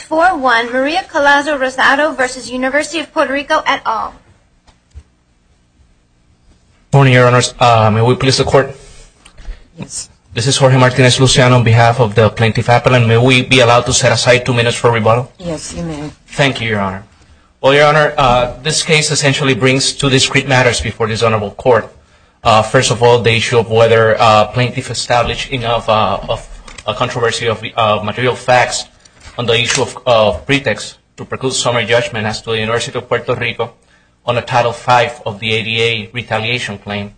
at all. Good morning, Your Honors. May we please the Court? Yes. This is Jorge Martinez-Luciano on behalf of the Plaintiff's Appellant. May we be allowed to set aside two minutes for rebuttal? Yes, you may. Thank you, Your Honor. Well, Your Honor, this case essentially brings two discrete matters before this honorable Court. First of all, the issue of whether plaintiffs established enough of a controversy of material facts on the issue of pretext to preclude summary judgment as to the University of Puerto Rico on a Title V of the ADA retaliation claim.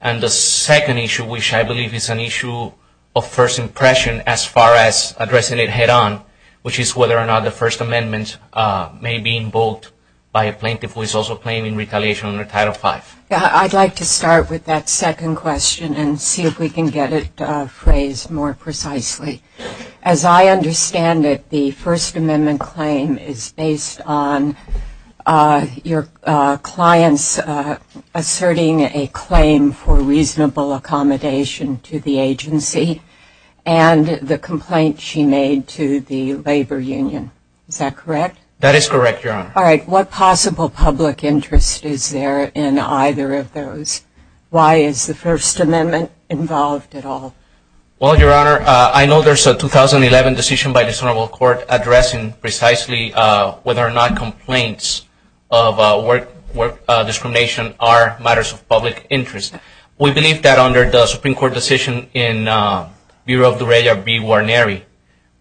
And the second issue, which I believe is an issue of first impression as far as addressing it head on, which is whether or not the First Amendment may be invoked by a plaintiff who is also claiming retaliation under Title V. I'd like to start with that second question and see if we can get it phrased more precisely. As I understand it, the First Amendment claim is based on your clients asserting a claim for reasonable accommodation to the agency and the complaint she made to the labor union. Is that correct? That is correct, Your Honor. All right. What possible public interest is there in either of those? Why is the First Amendment not invoked? Well, there's a 2011 decision by the Honorable Court addressing precisely whether or not complaints of work discrimination are matters of public interest. We believe that under the Supreme Court decision in Bureau of the Regular B. Warnery,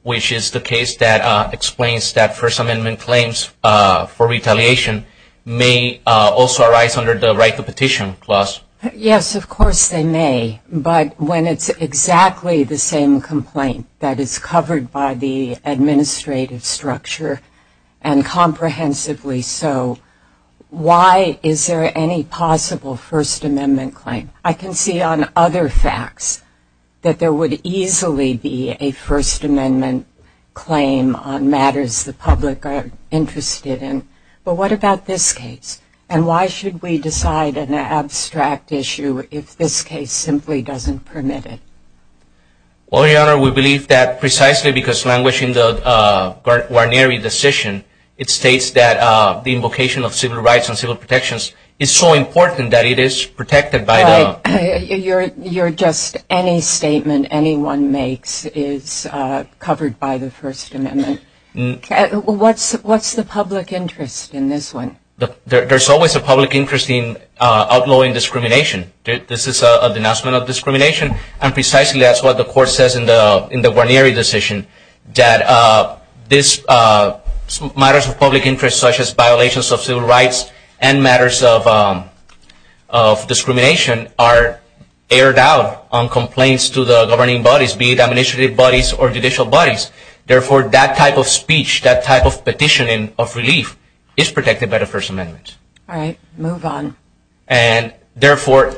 which is the case that explains that First Amendment claims for retaliation may also arise under the right to petition clause. Yes, of course they may. But when it's exactly the same complaint that is covered by the administrative structure, and comprehensively so, why is there any possible First Amendment claim? I can see on other facts that there would easily be a First Amendment claim on matters the public are interested in. But what about this case? And why should we decide an abstract issue if this case simply doesn't permit it? Well, Your Honor, we believe that precisely because languishing the Warnery decision, it states that the invocation of civil rights and civil protections is so important that it is protected by the... You're just... any statement anyone makes is covered by the First Amendment. What's the public interest in this one? There's always a public interest in outlawing discrimination. This is a denouncement of discrimination and precisely that's what the court says in the Warnery decision, that matters of public interest such as violations of civil rights and matters of discrimination are aired out on complaints to the governing bodies, be it administrative bodies or judicial bodies. Therefore, that type of speech, that type of petitioning of relief is protected by the First Amendment. All right, move on. And therefore,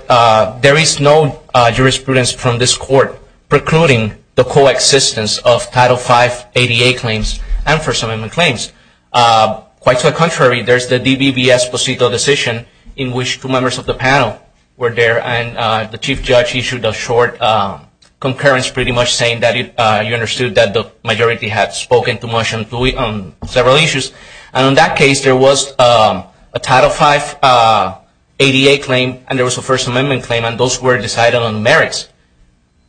there is no jurisprudence from this court precluding the co-existence of Title V ADA claims and First Amendment claims. Quite to the contrary, there's the DBVS Procedural Decision in which two members of the panel were there and the Chief Judge issued a short concurrence pretty much saying that you understood that the majority had spoken too much on several issues and in that case there was a Title V ADA claim and there was a First Amendment claim and those were decided on merits.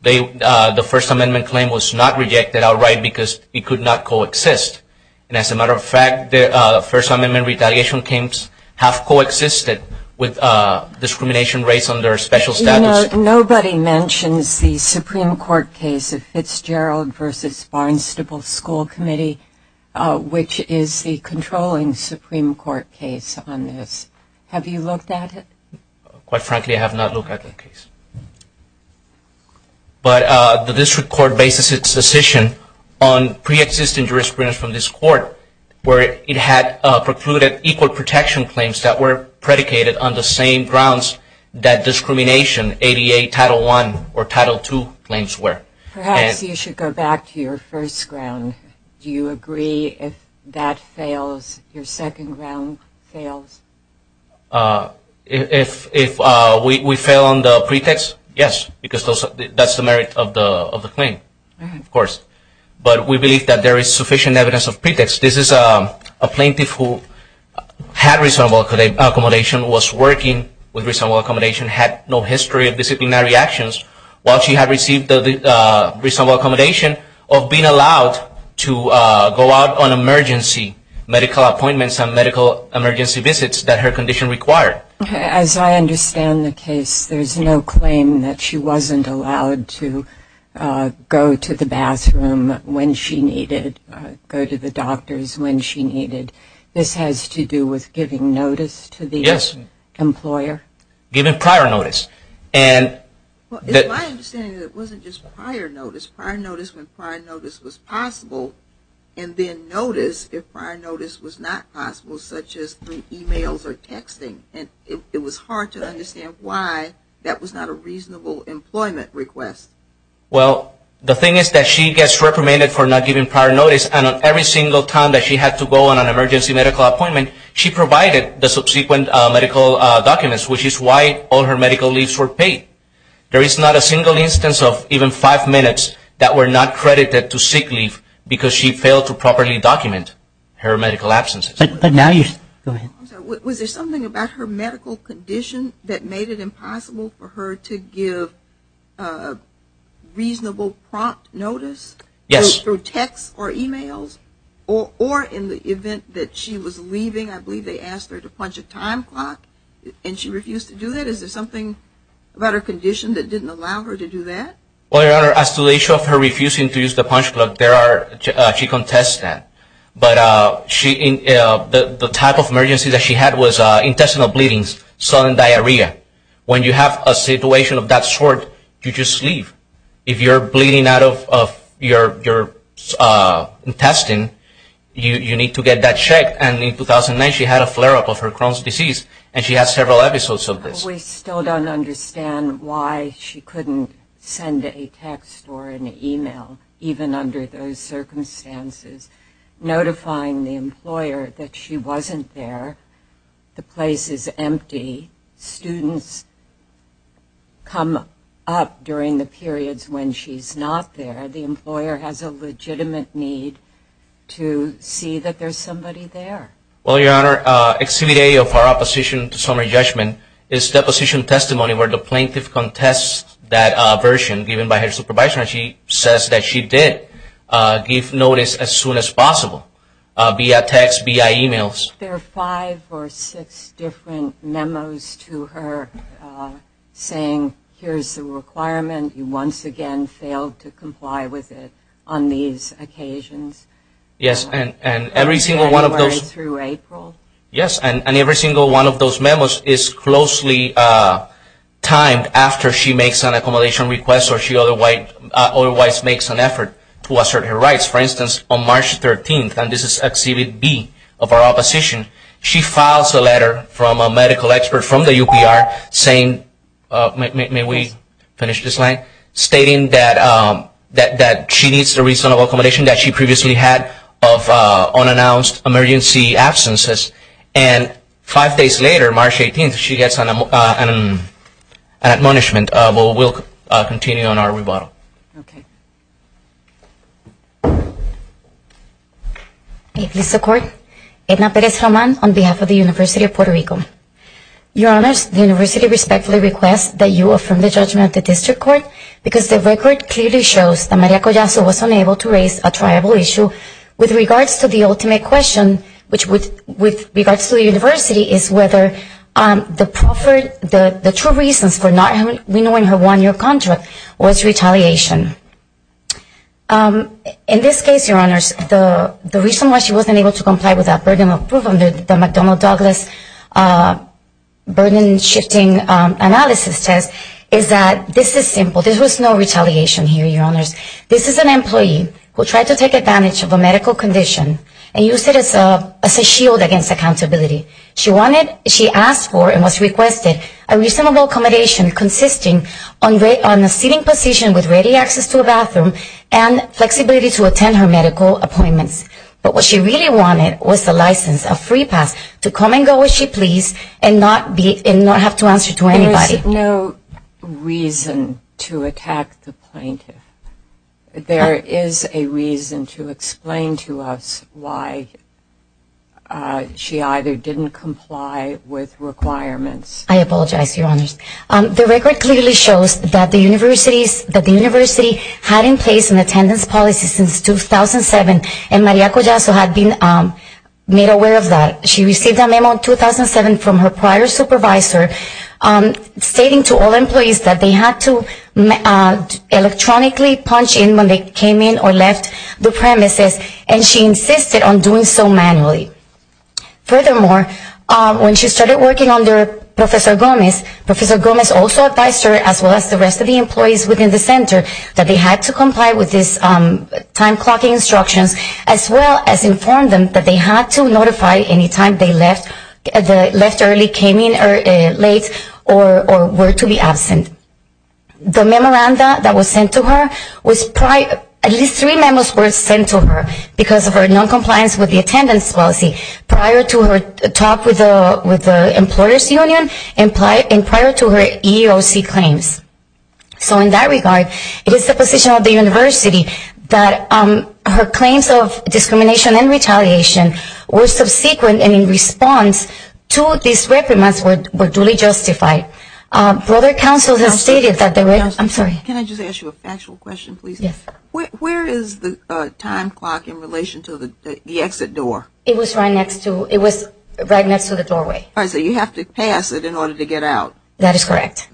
The First Amendment claim was not rejected outright because it could not co-exist. And as a matter of fact, the First Amendment retaliation claims have co-existed with discrimination rates under special status. Nobody mentions the Supreme Court case of Fitzgerald v. Barnstable School Committee, which is the controlling Supreme Court case on this. Have you looked at it? Quite frankly, I have not looked at the case. But the District Court bases its decision on pre-existing jurisprudence from this court where it had precluded equal protection claims that were predicated on the same grounds that discrimination ADA Title I or Title II claims were. Perhaps you should go back to your first ground. Do you agree if that fails, if your second ground fails? If we fail on the pretext, yes, because that's the merit of the claim, of course. But we believe that there is sufficient evidence of pretext. This is a plaintiff who had reasonable accommodation, was working with reasonable accommodation, had no history of disciplinary actions while she had received the reasonable accommodation of being allowed to go out on emergency, medical appointments and medical emergency visits that her condition required. As I understand the case, there is no claim that she wasn't allowed to go to the bathroom when she needed, go to the doctors when she needed. This has to do with giving notice to the employer? Yes, giving prior notice. It's my understanding that it wasn't just prior notice. Prior notice when prior notice was possible and then notice if prior notice was not possible, such as emails or texting. It was hard to understand why that was not a reasonable employment request. The thing is that she gets reprimanded for not giving prior notice and on every single time that she had to go on an emergency medical appointment, she provided the subsequent medical documents, which is why all her medical leaves were paid. There is not a single instance of even five minutes that were not credited to sick leave because she failed to properly document her medical absence. Was there something about her medical condition that made it impossible for her to give reasonable prompt notice through text or emails? Or in the event that she was leaving, I believe they asked her to punch a time clock and she refused to do that? Is there something about her condition that didn't allow her to do that? As to the issue of her refusing to use the punch clock, she contests that. But the type of emergency that she had was intestinal bleeding, sudden diarrhea. When you have a situation of that sort, you just leave. If you're bleeding out of your intestine, you need to get that checked and in 2009 she had a flare-up of her Crohn's disease and she had several episodes of this. But we still don't understand why she couldn't send a text or an email, even under those circumstances, notifying the employer that she wasn't there. The place is empty. Students come up during the periods when she's not there. The employer has a legitimate need to see that there's somebody there. Well, Your Honor, Exhibit A of our opposition to summary judgment is deposition testimony where the plaintiff contests that version given by her supervisor. She says that she did give notice as soon as possible, via text, via emails. There are five or six different memos to her saying, here's the requirement. You once again failed to comply with it on these occasions. Yes, and every single one of those memos is closely timed after she makes an accommodation request or she otherwise makes an effort to assert her rights. For instance, on March 13th, and this is Exhibit B of our opposition, she files a letter from a medical expert from the UPR saying, may we finish this slide, stating that she needs the reasonable accommodation that she previously had of unannounced emergency absences. And five days later, March 18th, she gets an admonishment. But we'll continue on our rebuttal. May it please the Court, Edna Perez-Román on behalf of the University of Puerto Rico. Your Honors, the University respectfully requests that you affirm the judgment of the District Court because the record clearly shows that Maria Collazo was unable to raise a triable issue with regards to the ultimate question, which with regards to the University, is whether the true reasons for not renewing her one-year contract was retaliation. In this case, Your Honors, the reason why she wasn't able to comply with that burden of proof under the McDonnell-Douglas burden shifting analysis test is that this is simply not retaliation. This is an employee who tried to take advantage of a medical condition and used it as a shield against accountability. She asked for and was requested a reasonable accommodation consisting on a seating position with ready access to a bathroom and flexibility to attend her medical appointments. But what she really wanted was a license, a free pass, to come and go as she pleased and not have to answer to anybody. There is no reason to attack the plaintiff. There is a reason to explain to us why she either didn't comply with requirements. I apologize, Your Honors. The record clearly shows that the University had in place an attendance policy since 2007 and Maria Collazo had been made aware of that. She received a memo in 2007 from her prior supervisor stating to all employees that they had to electronically punch in when they came in or left the premises and she insisted on doing so manually. Furthermore, when she started working under Professor Gomez, Professor Gomez also advised her as well as the rest of the employees within the center that they had to comply with these time clocking instructions as well as inform them that they had to notify any time they left early, came in late, or were to be absent. The memoranda that was sent to her, at least three memos were sent to her because of her noncompliance with the attendance policy prior to her talk with the employers union and prior to her EEOC claims. So in that regard, it is the position of the University that her claims of discrimination and retaliation were subsequent and in response to these reprimands were duly justified. Further, counsel has stated that there were, I'm sorry. Can I just ask you a factual question, please? Yes. Where is the time clock in relation to the exit door? It was right next to, it was right next to the doorway. All right, so you have to pass it in order to get out. That is correct.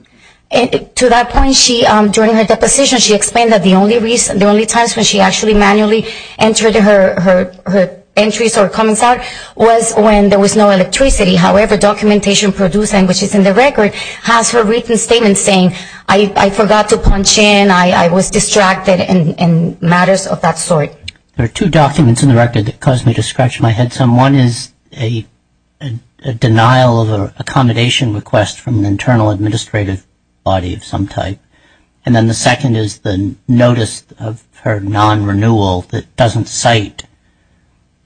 And to that point, she, during her deposition, she explained that the only times when she actually manually entered her entries or comments out was when there was no electricity. However, documentation produced, which is in the record, has her written statement saying, I forgot to punch in, I was distracted, and matters of that sort. There are two documents in the record that caused me to scratch my head some. One is a denial of an accommodation request from the internal administrative body of some of her non-renewal that doesn't cite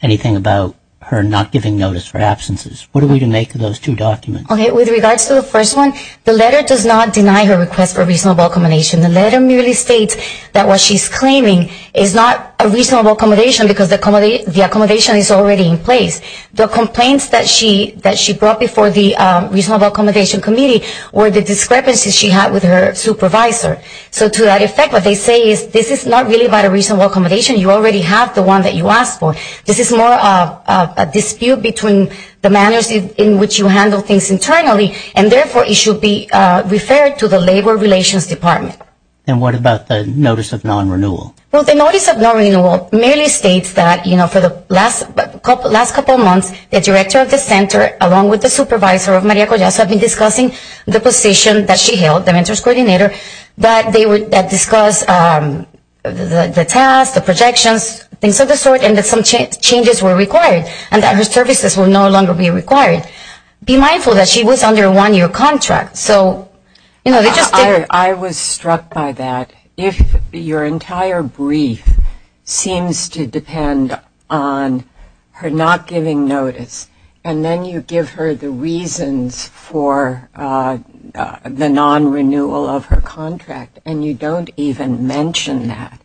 anything about her not giving notice for absences. What do we make of those two documents? Okay, with regards to the first one, the letter does not deny her request for reasonable accommodation. The letter merely states that what she's claiming is not a reasonable accommodation because the accommodation is already in place. The complaints that she brought before the reasonable accommodation committee were the discrepancies she had with her supervisor. So to that effect, what they say is this is not really about a reasonable accommodation. You already have the one that you asked for. This is more of a dispute between the manners in which you handle things internally, and therefore, it should be referred to the labor relations department. And what about the notice of non-renewal? Well, the notice of non-renewal merely states that, you know, for the last couple of months, the director of the center, along with the supervisor of Maria Collazo, have been discussing the position that she held, the mentors coordinator, that they would discuss the tasks, the projections, things of the sort, and that some changes were required, and that her services would no longer be required. Be mindful that she was under a one-year contract, so, you know, they just didn't I was struck by that. If your entire brief seems to depend on her not giving notice, and then you give her the reasons for the non-renewal of her contract, and you don't even mention that,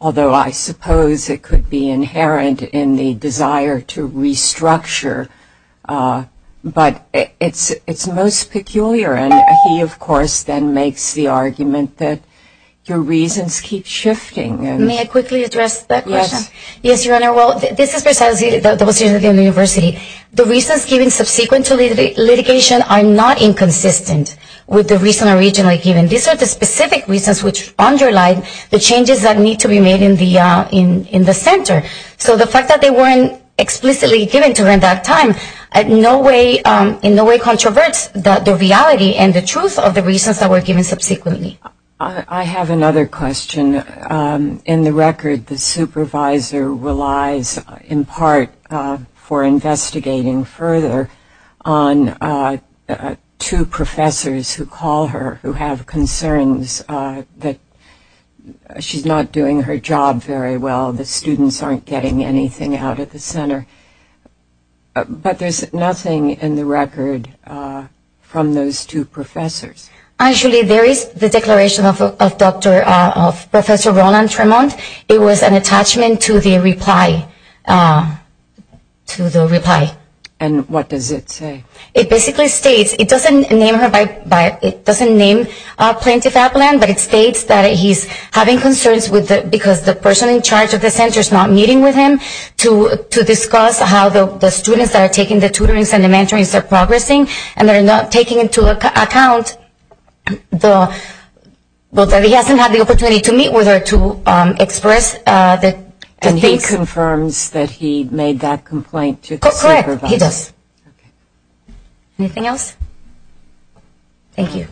although I suppose it could be inherent in the desire to restructure, but it's most peculiar. And he, of course, then makes the argument that your reasons keep shifting. May I quickly address that question? Yes. Yes, Your Honor. Well, this is precisely the position of the university. The reasons given subsequently to litigation are not inconsistent with the reason originally given. These are the specific reasons which underlie the changes that need to be made in the center. So the fact that they weren't explicitly given during that time in no way controverts the reality and the truth of the reasons that were given subsequently. I have another question. In the record, the supervisor relies in part for investigating further on two professors who call her who have concerns that she's not doing her job very well, the students aren't getting anything out of the center. But there's nothing in the record from those two professors. Actually, there is the declaration of Professor Roland Tremont. It was an attachment to the reply. And what does it say? It basically states, it doesn't name Plenty Fablan, but it states that he's having concerns because the person in charge of the center is not meeting with him to discuss how the students that are taking the tutoring and the mentoring are progressing, and they're not taking into account that he hasn't had the opportunity to meet with her to express the things. And he confirms that he made that complaint to the supervisor. Correct, he does. Anything else? Thank you.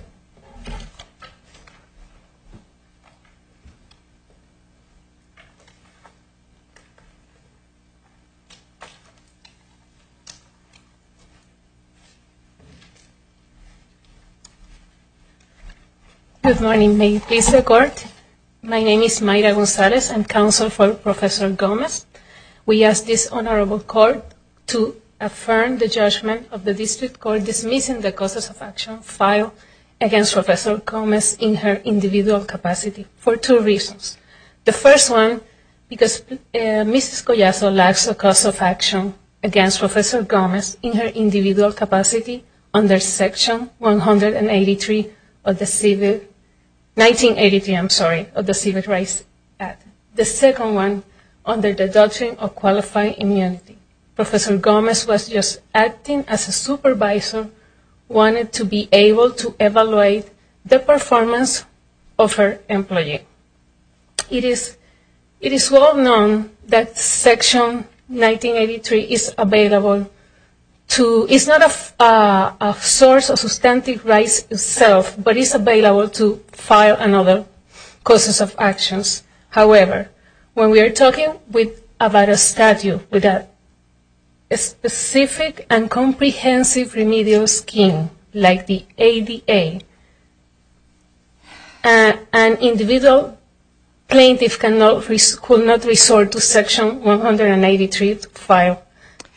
Good morning. May it please the court. My name is Mayra Gonzalez. I'm counsel for Professor Gomez. We ask this honorable court to affirm the judgment of the district court dismissing the causes of action filed against Professor Gomez in her individual capacity for two reasons. The first one, because Mrs. Collazo lacks a cause of action against Professor Gomez, in her individual capacity under Section 183 of the Civil Rights Act. The second one, under the doctrine of qualified immunity, Professor Gomez was just acting as a supervisor, wanted to be able to evaluate the performance of her employee. It is well known that Section 1983 is not a source of substantive rights itself, but is available to file another causes of actions. However, when we are talking about a statute with a specific and comprehensive remedial scheme, like the ADA, an individual plaintiff cannot resort to Section 183 to file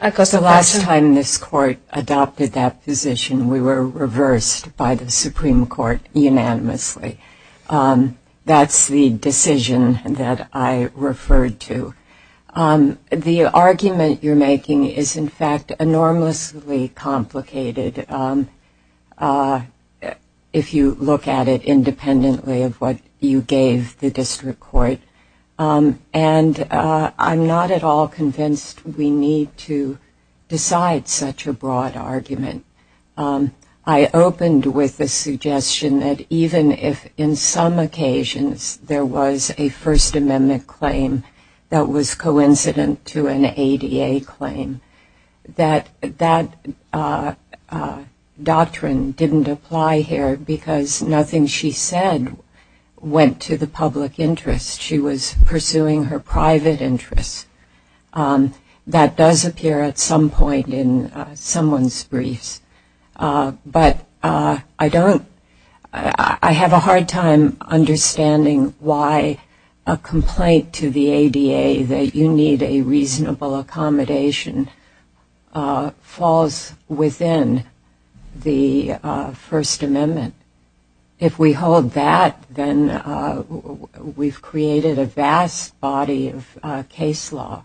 a cause of action. The last time this court adopted that position, we were reversed by the Supreme Court unanimously. That's the decision that I referred to. The argument you're making is, in fact, enormously complicated, if you look at it independently of what you gave the district court. And I'm not at all convinced we need to decide such a broad argument. I opened with the suggestion that even if, in some occasions, there was a First Amendment claim that was coincident to an ADA claim, that that doctrine didn't apply here because nothing she said went to the public interest. She was pursuing her private interests. That does appear at some point in someone's briefs. But I have a hard time understanding why a complaint to the ADA that you need a reasonable accommodation falls within the First Amendment. If we hold that, then we've created a vast body of case law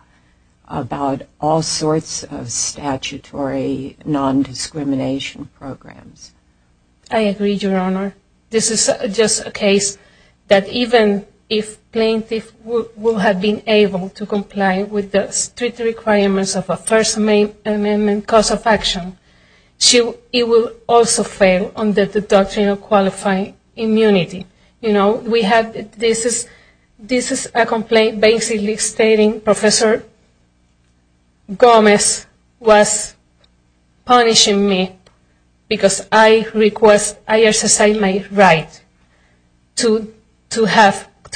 about all sorts of statutory nondiscrimination programs. I agree, Your Honor. This is just a case that even if plaintiff will have been able to comply with the strict requirements of a First Amendment cause of action, she will also fail under the doctrine of qualifying immunity. You know, this is a complaint basically stating Professor Gomez was punishing me because I request I exercise my right to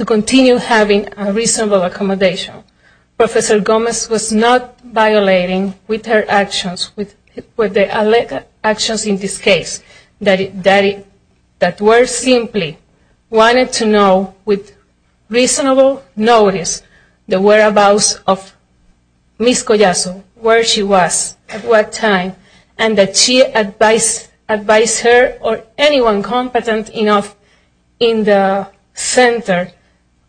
continue having a reasonable accommodation. Professor Gomez was not violating with her actions, with the actions in this case, that were simply wanted to know with reasonable notice the whereabouts of Ms. Collazo, where she was, at what time, and that she advise her or anyone competent enough in the center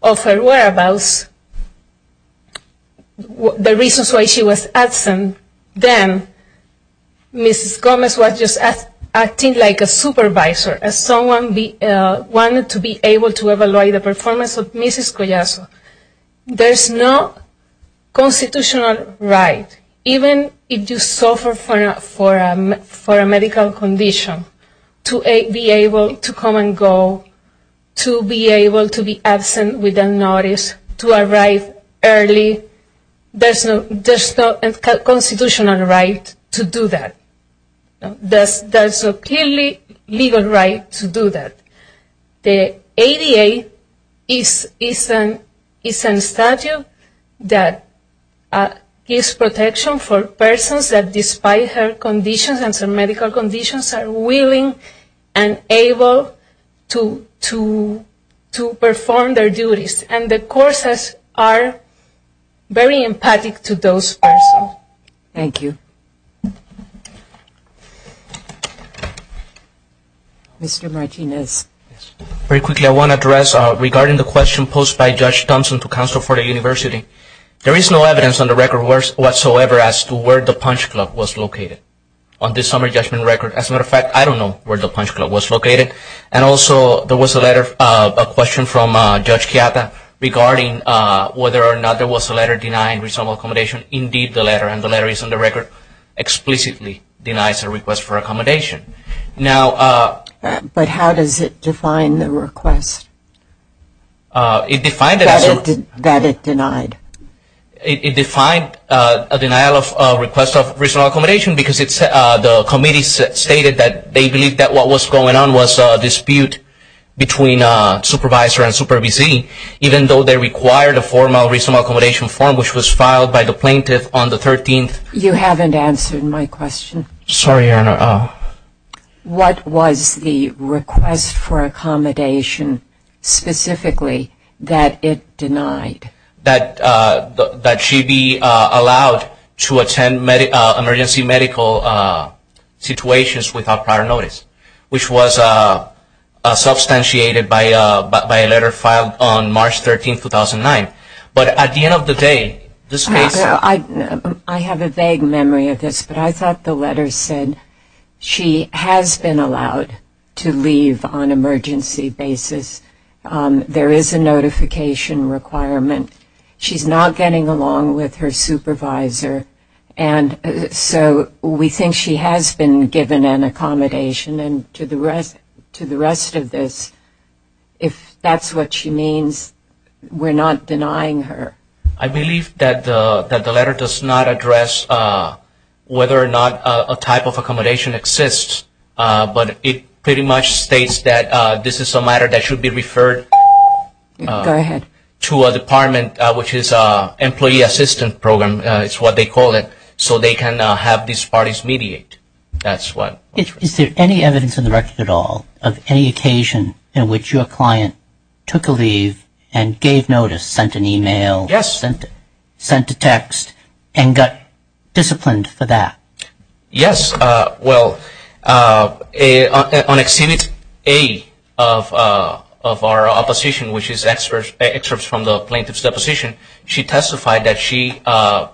of her whereabouts the reasons why she was absent. Then, Mrs. Gomez was just acting like a supervisor, as someone wanted to be able to evaluate the performance of Mrs. Collazo. There's no constitutional right, even if you suffer for a medical condition, to be able to come and go, to be able to be absent without notice, to arrive early. There's no constitutional right to do that. There's no clearly legal right to do that. The ADA is a statute that gives protection for persons that, despite her conditions and some medical conditions, are willing and able to perform their duties. And the courses are very empathic to those persons. Thank you. Mr. Martinez. Very quickly, I want to address regarding the question posed by Judge Thompson to Council for the University. There is no evidence on the record whatsoever as to where the Punch Club was located on this summer judgment record. As a matter of fact, I don't know where the Punch Club was located. And also, there was a letter, a question from Judge Chiata, regarding whether or not there was a letter denying reasonable accommodation. Indeed, the letter, and the letter is on the record, explicitly denies a request for accommodation. But how does it define the request? That it denied. It defined a denial of request of reasonable accommodation because the committee stated that they believed that what was going on was a dispute between supervisor and supervisee, even though they required a formal reasonable accommodation form, which was filed by the plaintiff on the 13th. Sorry, Your Honor. What was the request for accommodation specifically that it denied? That she be allowed to attend emergency medical situations without prior notice, which was substantiated by a letter filed on March 13, 2009. But at the end of the day, this case... I have a vague memory of this, but I thought the letter said she has been allowed to leave on emergency basis. There is a notification requirement. She's not getting along with her supervisor, and so we think she has been given an accommodation. And to the rest of this, if that's what she means, we're not denying her. I believe that the letter does not address whether or not a type of accommodation exists, but it pretty much states that this is a matter that should be referred to a department, which is an employee assistance program is what they call it, so they can have these parties mediate. Is there any evidence in the record at all of any occasion in which your client took a leave and gave notice, sent an email, sent a text, and got disciplined for that? Yes. Well, on Exhibit A of our opposition, which is excerpts from the plaintiff's deposition, she testified that she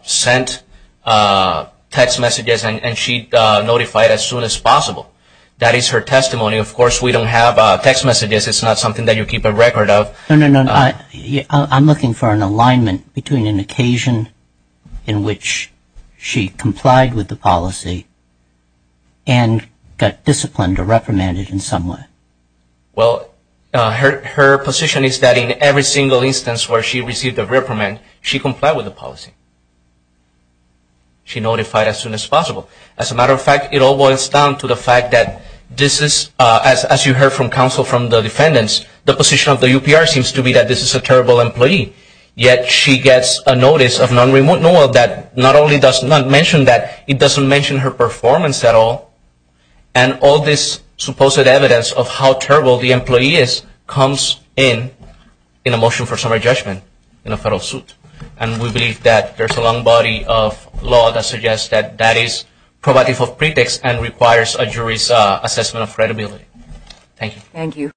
sent text messages and she notified as soon as possible. That is her testimony. Of course, we don't have text messages. It's not something that you keep a record of. No, no, no. I'm looking for an alignment between an occasion in which she complied with the policy and got disciplined or reprimanded in some way. Well, her position is that in every single instance where she received a reprimand, she complied with the policy. She notified as soon as possible. As a matter of fact, it all boils down to the fact that this is, as you heard from counsel from the defendants, the position of the UPR seems to be that this is a terrible employee, yet she gets a notice of non-removal that not only does not mention that, it doesn't mention her performance at all, and all this supposed evidence of how terrible the employee is comes in in a motion for summary judgment in a federal suit. And we believe that there's a long body of law that suggests that that is provocative of pretext Thank you. Thank you.